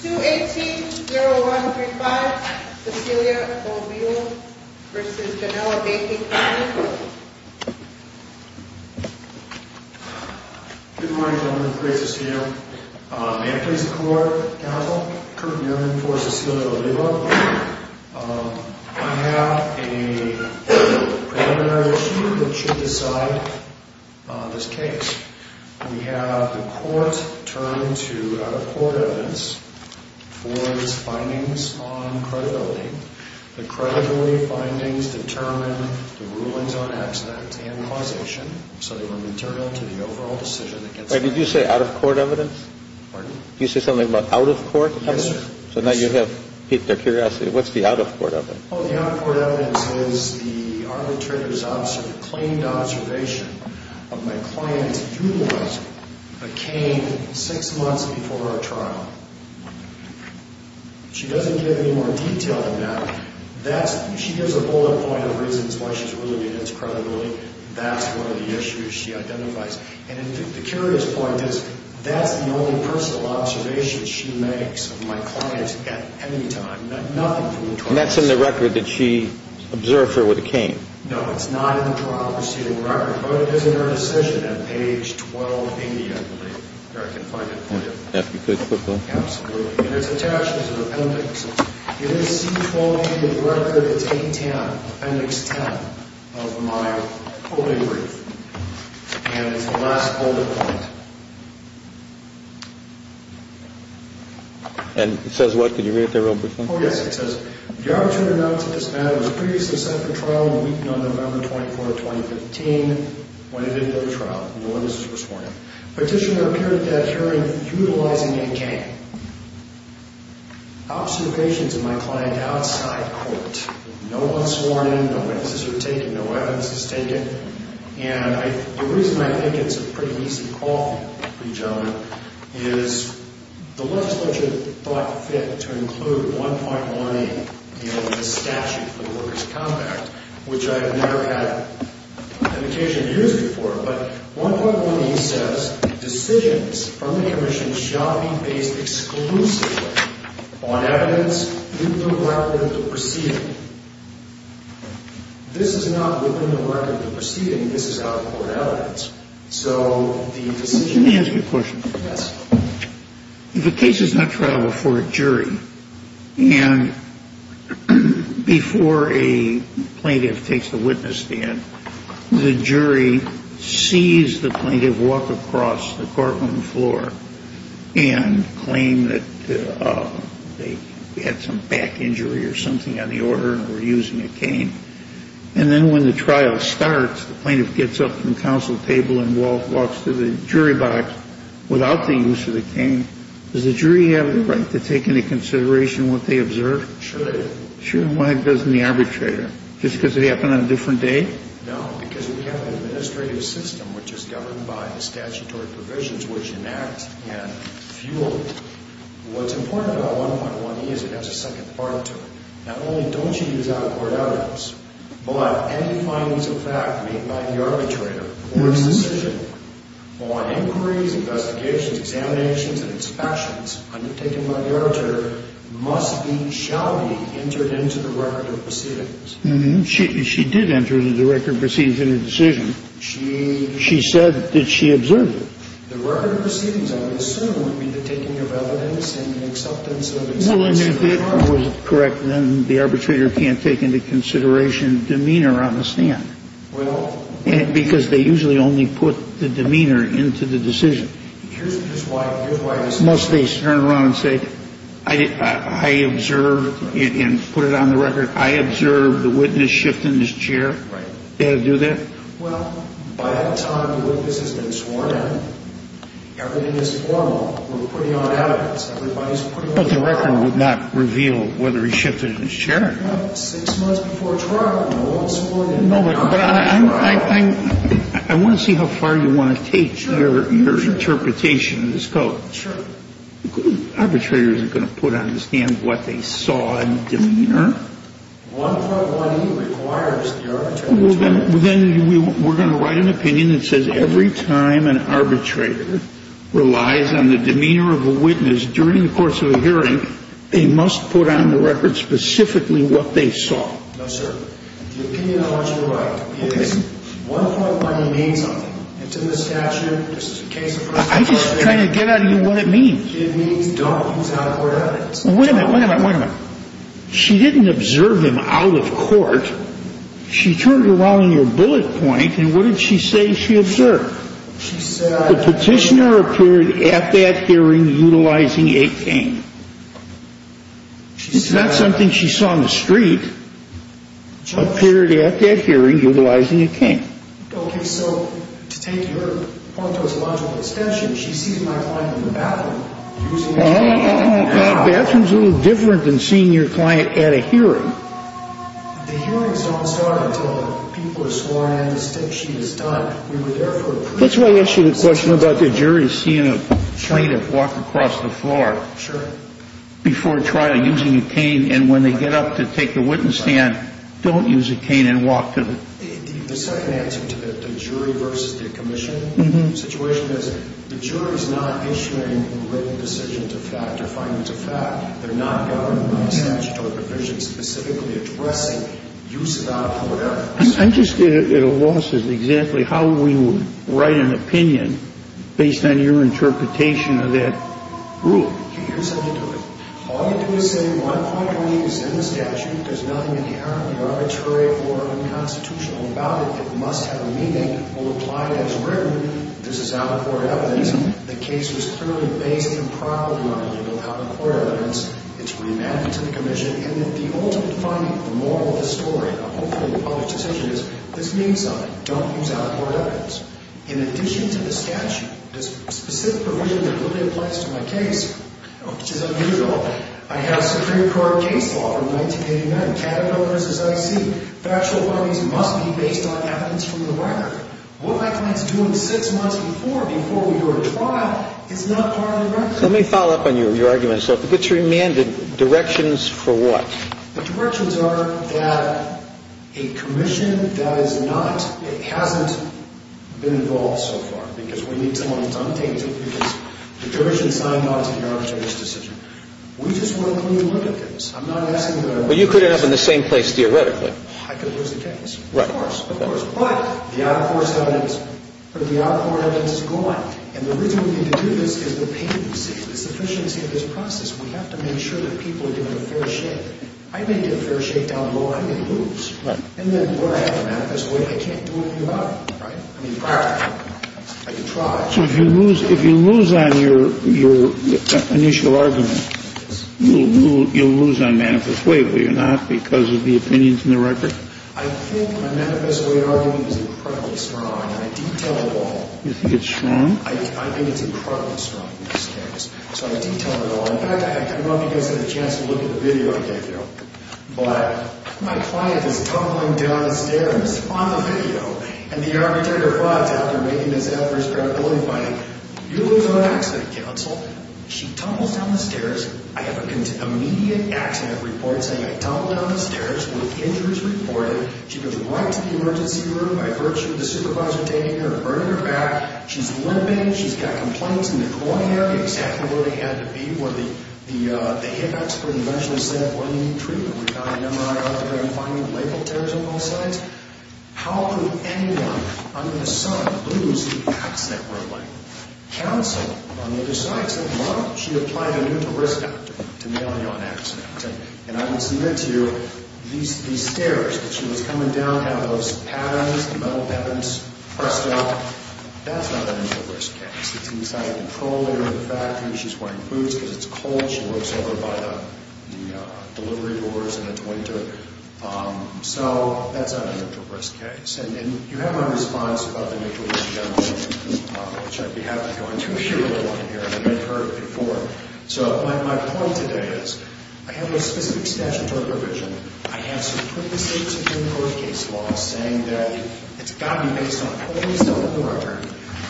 218-0135 Cecilia Oliva v. Janella Baking Co. Good morning, gentlemen. Great to see you. May I please the court, counsel? Kurt Newman for Cecilia Oliva. I have a preliminary issue that should decide this case. We have the court turn to out-of-court evidence for its findings on credibility. The credibility findings determine the rulings on accident and causation, so they were material to the overall decision against... Wait, did you say out-of-court evidence? Pardon? Did you say something about out-of-court evidence? Yes, sir. So now you have piqued their curiosity. What's the out-of-court evidence? Well, the out-of-court evidence is the arbitrator's claimed observation of my client's utilizing a cane six months before our trial. She doesn't give any more detail than that. She gives a bullet point of reasons why she's ruling against credibility. That's one of the issues she identifies. And the curious point is that's the only personal observation she makes of my client at any time. Nothing from the trial. And that's in the record that she observed her with a cane. No, it's not in the trial proceeding record. But it is in her decision at page 1280, I believe, where I can find it for you. If you could, quickly. Absolutely. And it's attached as an appendix. It is C1280 with record. It's 810, appendix 10 of my holding brief. And it's the last holding point. And it says what? Could you read it there real briefly? Oh, yes. It says, the arbitrator announced that this matter was previously set for trial in the weekend of November 24, 2015. When it entered the trial, no witnesses were sworn in. Petitioner appeared at that hearing utilizing a cane. Observations of my client outside court. No one sworn in. No witnesses were taken. No evidence was taken. And the reason I think it's a pretty easy call for you, gentlemen, is the legislature thought it fit to include 1.18 in the statute for the workers' compact, which I've never had an occasion to use before. But 1.18 says, decisions from the commission shall be based exclusively on evidence within the record of the proceeding. This is not within the record of the proceeding. This is out of court evidence. So the decision — Let me ask you a question. Yes. If a case is not trial before a jury, and before a plaintiff takes the witness stand, the jury sees the plaintiff walk across the courtroom floor and claim that they had some back injury or something on the organ. And then when the trial starts, the plaintiff gets up from the counsel table and walks to the jury box without the use of the cane. Does the jury have the right to take into consideration what they observe? Sure they do. Sure? Why doesn't the arbitrator? Just because it happened on a different day? No, because we have an administrative system which is governed by the statutory provisions which enact and fuel. What's important about 1.18 is it has a second part to it. Not only don't you use out-of-court evidence, but any findings of fact made by the arbitrator or his decision on inquiries, investigations, examinations, and inspections undertaken by the arbitrator must be, shall be, entered into the record of proceedings. She did enter it into the record of proceedings in her decision. She said that she observed it. The record of proceedings, I would assume, would be the taking of evidence and the acceptance of evidence. Well, and if it was correct, then the arbitrator can't take into consideration demeanor on the stand. Well. Because they usually only put the demeanor into the decision. Here's why this is important. Must they turn around and say, I observed, and put it on the record, I observed the witness shift in his chair? Right. They have to do that? Well, by that time, the witness has been sworn in. Everything is formal. We're putting on evidence. Everybody's putting on evidence. But the record would not reveal whether he shifted in his chair. Well, six months before trial, no one's sworn in. No, but I want to see how far you want to take your interpretation of this code. Sure. The arbitrator isn't going to put on the stand what they saw in the demeanor. 1.1e requires the arbitrator to turn around. We're going to write an opinion that says every time an arbitrator relies on the demeanor of a witness during the course of a hearing, they must put on the record specifically what they saw. No, sir. The opinion I want you to write is one point where he means something. It's in the statute. I'm just trying to get out of you what it means. It means don't use out-of-court evidence. Wait a minute, wait a minute, wait a minute. She didn't observe him out of court. She turned around on your bullet point, and what did she say she observed? She said... The petitioner appeared at that hearing utilizing a cane. She said... It's not something she saw in the street. Appeared at that hearing utilizing a cane. Okay, so to take your point to a logical extension, she sees my client in the bathroom using a cane. The bathroom's a little different than seeing your client at a hearing. The hearings don't start until the people are sworn in and the state sheet is done. We were there for a pre-trial hearing. That's why I asked you the question about the jury seeing a plaintiff walk across the floor. Sure. Before trial, using a cane, and when they get up to take the witness stand, don't use a cane and walk to the... The second answer to the jury versus the commission situation is the jury's not issuing written decisions of fact or findings of fact. They're not governed by statutory provisions specifically addressing use without a court evidence. I'm just at a loss as to exactly how we would write an opinion based on your interpretation of that rule. Here's how you do it. All you do is say one point of view is in the statute. There's nothing inherently arbitrary or unconstitutional about it. It must have a meaning or apply it as written. This is out of court evidence. The case was clearly based on prior learning without a court evidence. It's remanded to the commission. And the ultimate finding, the moral of the story, and hopefully the public's decision is this means something. Don't use out of court evidence. In addition to the statute, the specific provision that really applies to my case, which is unusual, I have Supreme Court case law from 1989. Canada versus IC. Factual findings must be based on evidence from the record. What my client's doing six months before, before we do a trial, is not part of the record. Let me follow up on your argument. So if it gets remanded, directions for what? The directions are that a commission that is not, that hasn't been involved so far, because we need someone who's untainted, because the commission signed on to guarantee this decision. We just want a clean look at this. I'm not asking for a clean look at this. But you could end up in the same place theoretically. I could lose the case. Right. Of course. Of course. But the out of court evidence, the out of court evidence is gone. And the reason we need to do this is the patency, the sufficiency of this process. We have to make sure that people are given a fair shake. I may get a fair shake down low. I may lose. Right. And then what do I have to manifest away? I can't do anything about it. Right? I mean, I could try. So if you lose on your initial argument, you'll lose on manifest way, will you not, because of the opinions in the record? I think my manifest way argument is incredibly strong. And I detail it all. You think it's strong? I think it's incredibly strong in this case. So I detail it all. In fact, I don't know if you guys had a chance to look at the video I gave you. But my client is tumbling down the stairs on the video. And the arbitrator thought, after making this effort of credibility finding, you lose on accident counsel. She tumbles down the stairs. I have an immediate accident report saying I tumbled down the stairs with injuries reported. She goes right to the emergency room by virtue of the supervisor taking her and burning her back. She's limping. She's got complaints in the groin area, exactly where they had to be, where the hip expert eventually said, what do you need treatment? We've got an MRI out there. I'm finding labral tears on both sides. How could anyone under the sun lose an accident report? Counsel on the other side said, well, she applied a neutral risk factor to nail you on accident. And I would submit to you, these stairs that she was coming down have those patterns, the metal patterns pressed down. That's not a neutral risk case. It's inside a control area in the factory. She's wearing boots because it's cold. She works over by the delivery doors and the toilet. So that's not a neutral risk case. And you have my response about the neutral risk gentleman, which I'd be happy to go on to if you really want to hear it. I mean, I've heard it before. So my point today is I have a specific statutory provision. I have Supreme Court case law saying that it's got to be based on a fully settled record.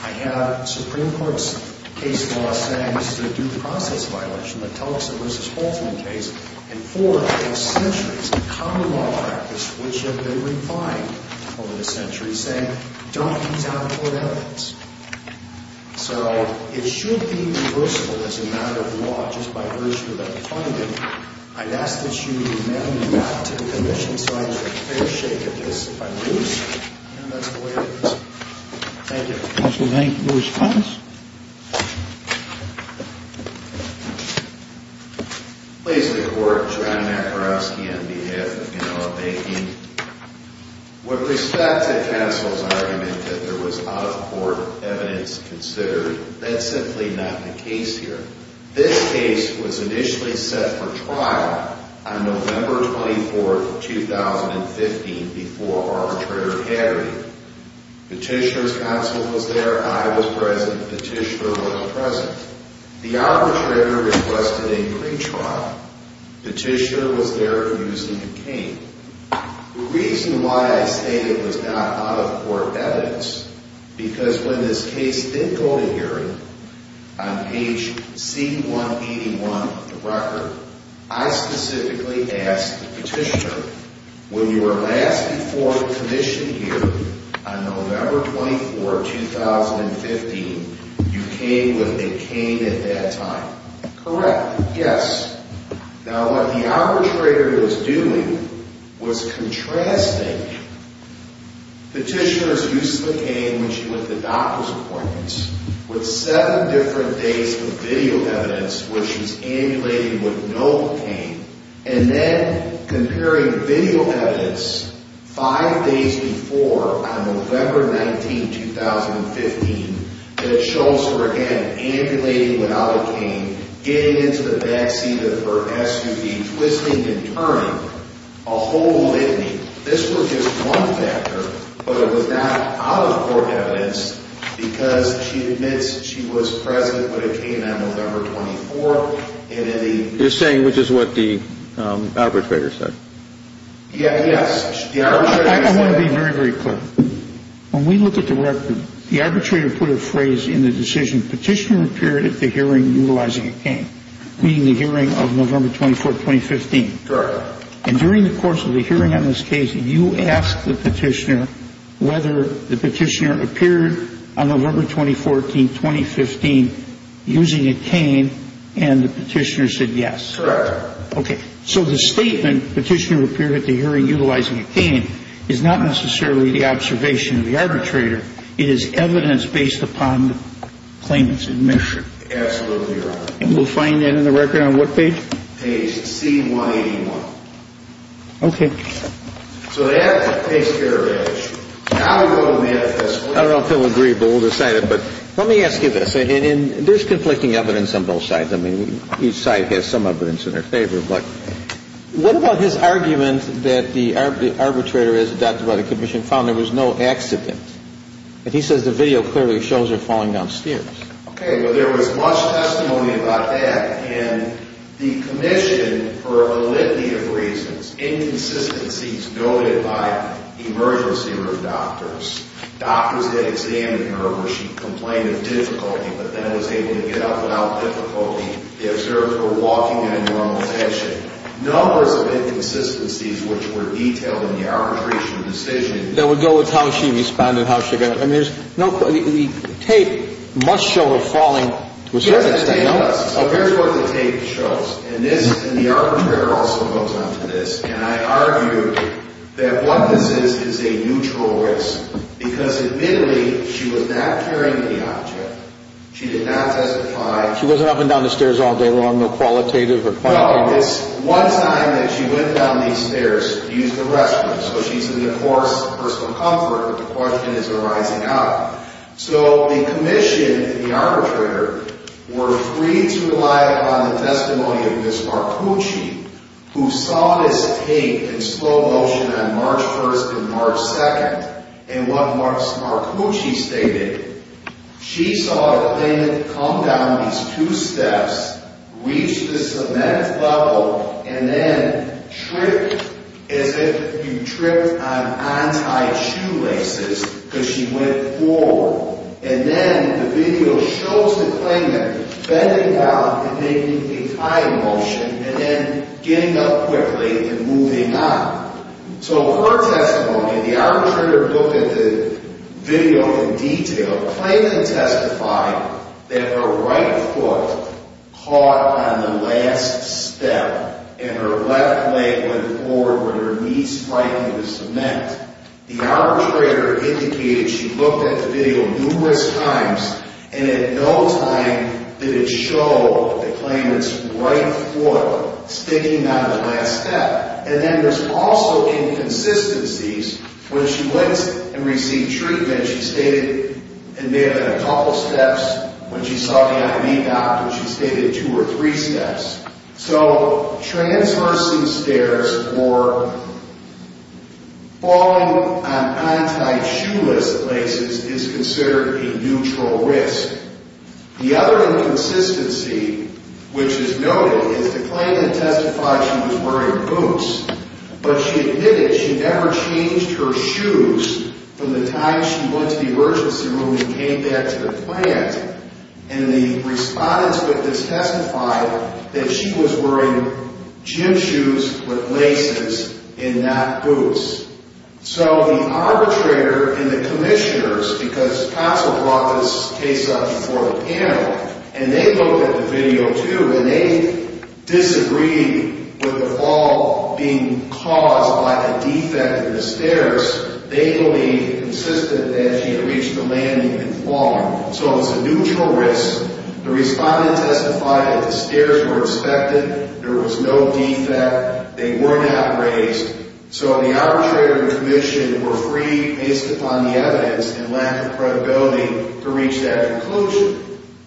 I have Supreme Court's case law saying it's a due process violation, a Tulsa v. Holtzman case. And for centuries, common law practice, which have been refined over the centuries, saying don't use out-of-court evidence. So it should be reversible as a matter of law just by virtue of that finding. I'd ask that you amend that to the commission so I can get a fair shake of this if I lose. And that's the way it is. Thank you. Counsel, thank you. Your response? Please, the Court. John Makarovsky on behalf of Genoa Banking. With respect to counsel's argument that there was out-of-court evidence considered, that's simply not the case here. This case was initially set for trial on November 24, 2015, before arbitrator Harry. Petitioner's counsel was there. I was present. Petitioner was present. The arbitrator requested a pretrial. Petitioner was there using a cane. The reason why I say it was not out-of-court evidence, because when this case did go to hearing, on page C181 of the record, I specifically asked the petitioner, when you were last informed of commission here on November 24, 2015, you came with a cane at that time. Correct. Yes. Now, what the arbitrator was doing was contrasting petitioner's use of the cane when she went to the doctor's appointments with seven different days of video evidence where she was ambulating with no cane, and then comparing video evidence five days before, on November 19, 2015, that shows her again ambulating without a cane, getting into the back seat of her SUV, twisting and turning, a whole litany. This was just one factor, but it was not out-of-court evidence because she admits she was present with a cane on November 24. You're saying which is what the arbitrator said? Yes. I want to be very, very clear. When we look at the record, the arbitrator put a phrase in the decision, Petitioner appeared at the hearing utilizing a cane, meaning the hearing of November 24, 2015. Correct. And during the course of the hearing on this case, you asked the petitioner whether the petitioner appeared on November 24, 2015, using a cane, and the petitioner said yes. Correct. Okay. So the statement, petitioner appeared at the hearing utilizing a cane, is not necessarily the observation of the arbitrator. It is evidence based upon the claimant's admission. Absolutely, Your Honor. And we'll find that in the record on what page? Page C181. Okay. So that takes care of it. Now we go to the other testimony. I don't know if they'll agree, but we'll decide it. But let me ask you this. There's conflicting evidence on both sides. I mean, each side has some evidence in their favor. But what about his argument that the arbitrator, as adopted by the commission, found there was no accident? And he says the video clearly shows her falling down stairs. Okay. Well, there was much testimony about that, and the commission, for a litany of reasons, inconsistencies noted by emergency room doctors, doctors that examined her where she complained of difficulty, but then was able to get up without difficulty. The observers were walking in a normal fashion. Numbers of inconsistencies which were detailed in the arbitration decision. That would go with how she responded, how she got up. I mean, the tape must show her falling. Yes, it does. So here's what the tape shows. And the arbitrator also goes on to this. And I argue that what this is is a neutral risk because, admittedly, she was not carrying the object. She did not testify. She wasn't up and down the stairs all day long, no qualitative or quantitative? No, it's one time that she went down these stairs, used the restroom. So she's in the course of personal comfort. The question is arising out. So the commission, the arbitrator, were free to rely upon the testimony of Ms. Marcucci, who saw this tape in slow motion on March 1st and March 2nd. And what Ms. Marcucci stated, she saw the plaintiff come down these two steps, reach the cement level, and then trip, as if you tripped on anti-shoelaces, because she went forward. And then the video shows the plaintiff bending down and making a high motion and then getting up quickly and moving up. So her testimony, the arbitrator looked at the video in detail. The plaintiff testified that her right foot caught on the last step and her left leg went forward with her knees striking the cement. The arbitrator indicated she looked at the video numerous times and at no time did it show the plaintiff's right foot sticking on the last step. And then there's also inconsistencies. When she went and received treatment, she stated it may have been a couple steps. When she saw the I.D. doctor, she stated two or three steps. So transversing stairs or falling on anti-shoeless laces is considered a neutral risk. The other inconsistency, which is noted, is the plaintiff testified she was wearing boots. But she admitted she never changed her shoes from the time she went to the emergency room and came back to the plant. And the respondents with this testified that she was wearing gym shoes with laces and not boots. So the arbitrator and the commissioners, because counsel brought this case up before the panel, and they looked at the video, too, and they disagreed with the fall being caused by a defect in the stairs. They believed, consistent, that she had reached the landing and fallen. So it was a neutral risk. The respondent testified that the stairs were inspected. There was no defect. They were not raised. So the arbitrator and the commission were free, based upon the evidence and lack of credibility, to reach that conclusion.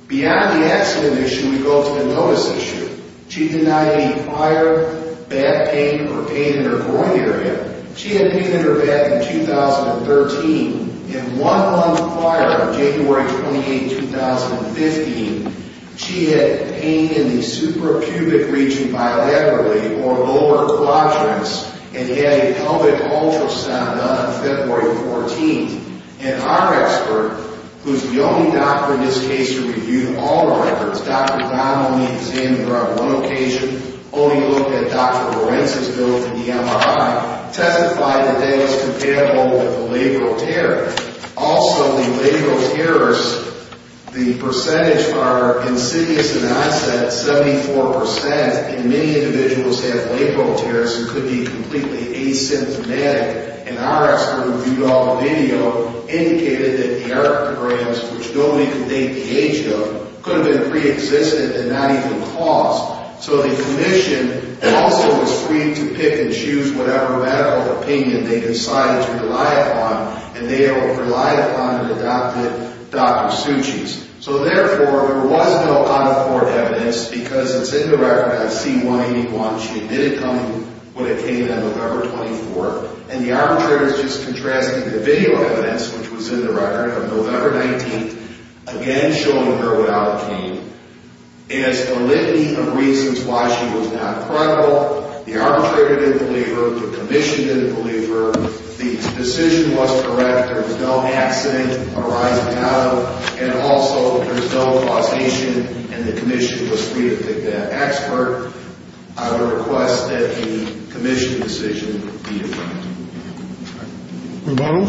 Beyond the accident issue, we go to the notice issue. She denied any fire, back pain, or pain in her groin area. She had pain in her back in 2013. In one month prior, January 28, 2015, she had pain in the supracubic region bilaterally, or lower quadrants, and had a pelvic ultrasound done on February 14. And our expert, who is the only doctor in this case who reviewed all records, Dr. Donnelly examined her on one occasion, only looked at Dr. Lorenz's bill for the MRI, testified that that was comparable with a labral tear. Also, the labral tears, the percentage are insidious and onset, 74%, and many individuals have labral tears who could be completely asymptomatic. And our expert reviewed all the video, indicated that the erectograms, which nobody could date the age of, could have been preexistent and not even caused. So the commission also was free to pick and choose whatever medical opinion they decided to rely upon, and they relied upon and adopted Dr. Suchi's. So, therefore, there was no on-the-court evidence, because it's in the record of C181. She admitted coming when it came on November 24. And the arbitrators just contrasted the video evidence, which was in the record of November 19, again showing her without a cane, as a litany of reasons why she was not credible. The arbitrator didn't believe her. The commission didn't believe her. The decision was correct. There was no accident arising out of it. And also, there's no causation, and the commission was free to pick that expert. I would request that the commission decision be approved. Rebuttal?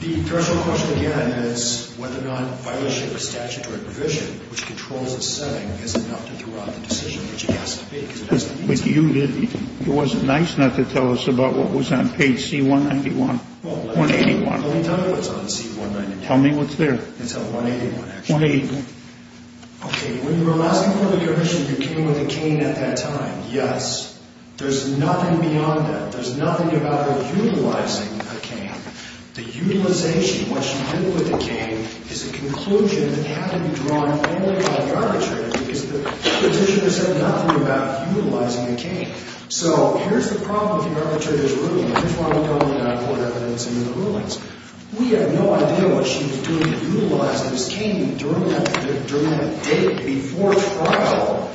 The threshold question, again, is whether or not violation of a statutory provision, which controls the setting, is enough to throw out the decision, which it has to be. But you didn't. It wasn't nice not to tell us about what was on page C181. Well, let me tell you what's on C181. Tell me what's there. It's on C181, actually. C181. Okay. When you were asking for the commission, you came with a cane at that time. Yes. There's nothing beyond that. There's nothing about her utilizing a cane. The utilization, what she did with the cane, is a conclusion that had to be drawn only by the arbitrator, because the petitioner said nothing about utilizing a cane. So here's the problem with the arbitrator's ruling. Here's what we've done in the out-of-court evidence and in the rulings. We have no idea what she was doing utilizing this cane during that date, before trial,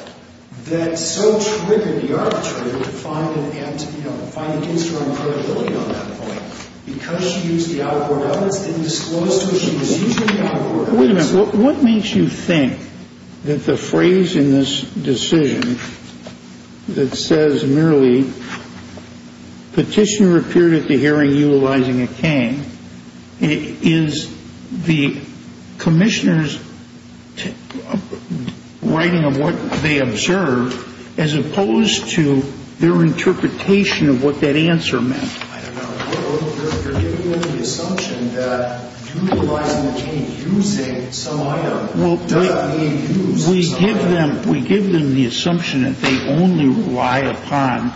that so triggered the arbitrator to find against her own credibility on that point. Because she used the out-of-court evidence, didn't disclose to us she was using the out-of-court evidence. Wait a minute. What makes you think that the phrase in this decision that says merely, petitioner appeared at the hearing utilizing a cane, is the commissioner's writing of what they observed, as opposed to their interpretation of what that answer meant? I don't know. You're giving them the assumption that utilizing a cane, using some item, does not mean use some item. We give them the assumption that they only rely upon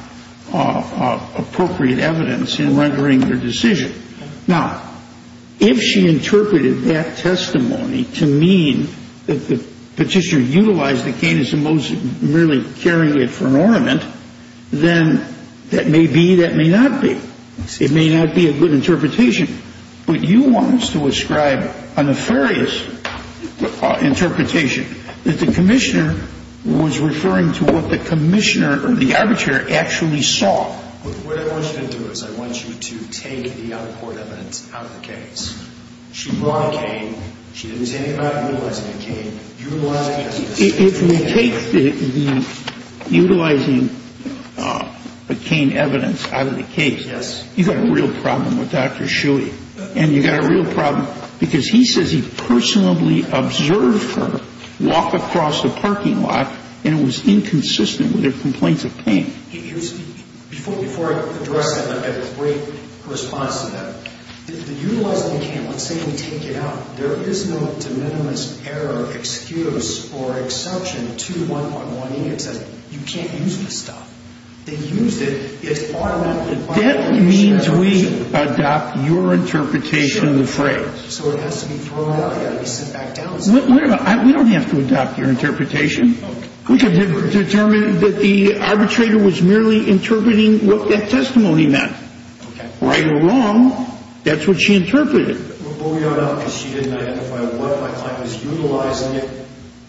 appropriate evidence in rendering their decision. Now, if she interpreted that testimony to mean that the petitioner utilized the cane as opposed to merely carrying it for an ornament, then that may be, that may not be. It may not be a good interpretation. What you want is to ascribe a nefarious interpretation, that the commissioner was referring to what the commissioner or the arbitrator actually saw. What I want you to do is I want you to take the out-of-court evidence out of the case. She brought a cane. She didn't say anything about utilizing a cane. If we take the utilizing the cane evidence out of the case, you've got a real problem with Dr. Shuey. And you've got a real problem because he says he personally observed her walk across the parking lot and it was inconsistent with her complaints of pain. Before I address that, I've got a great response to that. The utilizing the cane, let's say we take it out. There is no de minimis error, excuse, or exception to 1.18. It says you can't use this stuff. They used it. It's automatically violated. That means we adopt your interpretation of the phrase. Sure. So it has to be thrown out. It's got to be sent back down. We don't have to adopt your interpretation. We can determine that the arbitrator was merely interpreting what that testimony meant. Right or wrong, that's what she interpreted. What we don't know is she didn't identify what my client was utilizing it.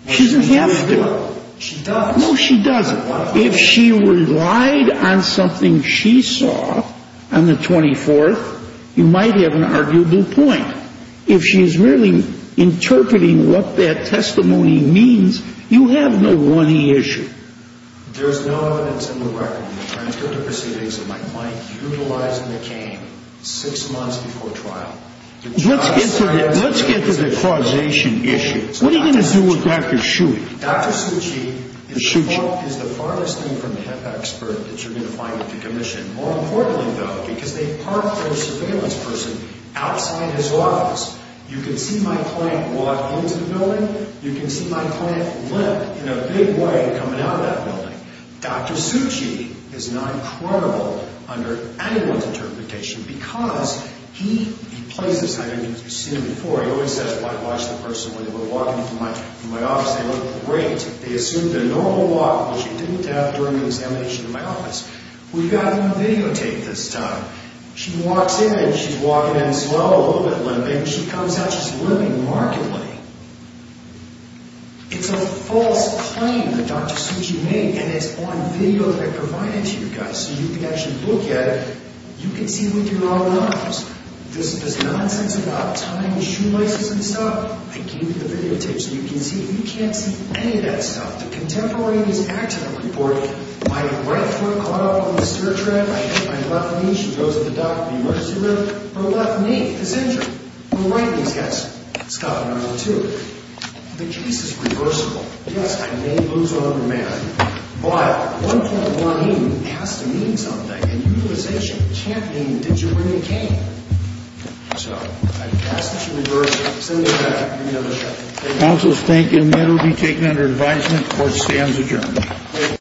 She doesn't have to. She does. No, she doesn't. If she relied on something she saw on the 24th, you might have an arguable point. If she is merely interpreting what that testimony means, you have no running issue. There is no evidence in the record in the transcript of proceedings of my client utilizing the cane six months before trial. Let's get to the causation issue. What are you going to do with Dr. Suchi? Dr. Suchi is the farthest thing from an expert that you're going to find at the commission. More importantly, though, because they parked their surveillance person outside his office. You can see my client walk into the building. You can see my client limp in a big way coming out of that building. Dr. Suchi is not credible under anyone's interpretation because he plays this. I don't know if you've seen it before. I always say I watch the person when they're walking from my office. They look great. They assume their normal walk, which they didn't have during the examination in my office. We've got it on videotape this time. She walks in. She's walking in slow, a little bit limping. She comes out. She's limping markedly. It's a false claim that Dr. Suchi made, and it's on video that I provided to you guys, so you can actually look at it. You can see with your own eyes. This nonsense about tying shoe laces and stuff, I gave you the videotape so you can see. You can't see any of that stuff. The contemporaneous act of reporting, my right foot caught up on the stair track. I hit my left knee. She goes to the doctor. The emergency room. She goes to the doctor. Her left knee is injured. Her right knee is, yes. It's got a number two. The case is reversible. Yes, I may lose another man, but 1.1E has to mean something. And utilization can't mean did you win the game. So, I pass this in reverse. Send it back. We'll be on the shelf. Thank you. Counsel is thank you. The matter will be taken under advisement. Court stands adjourned.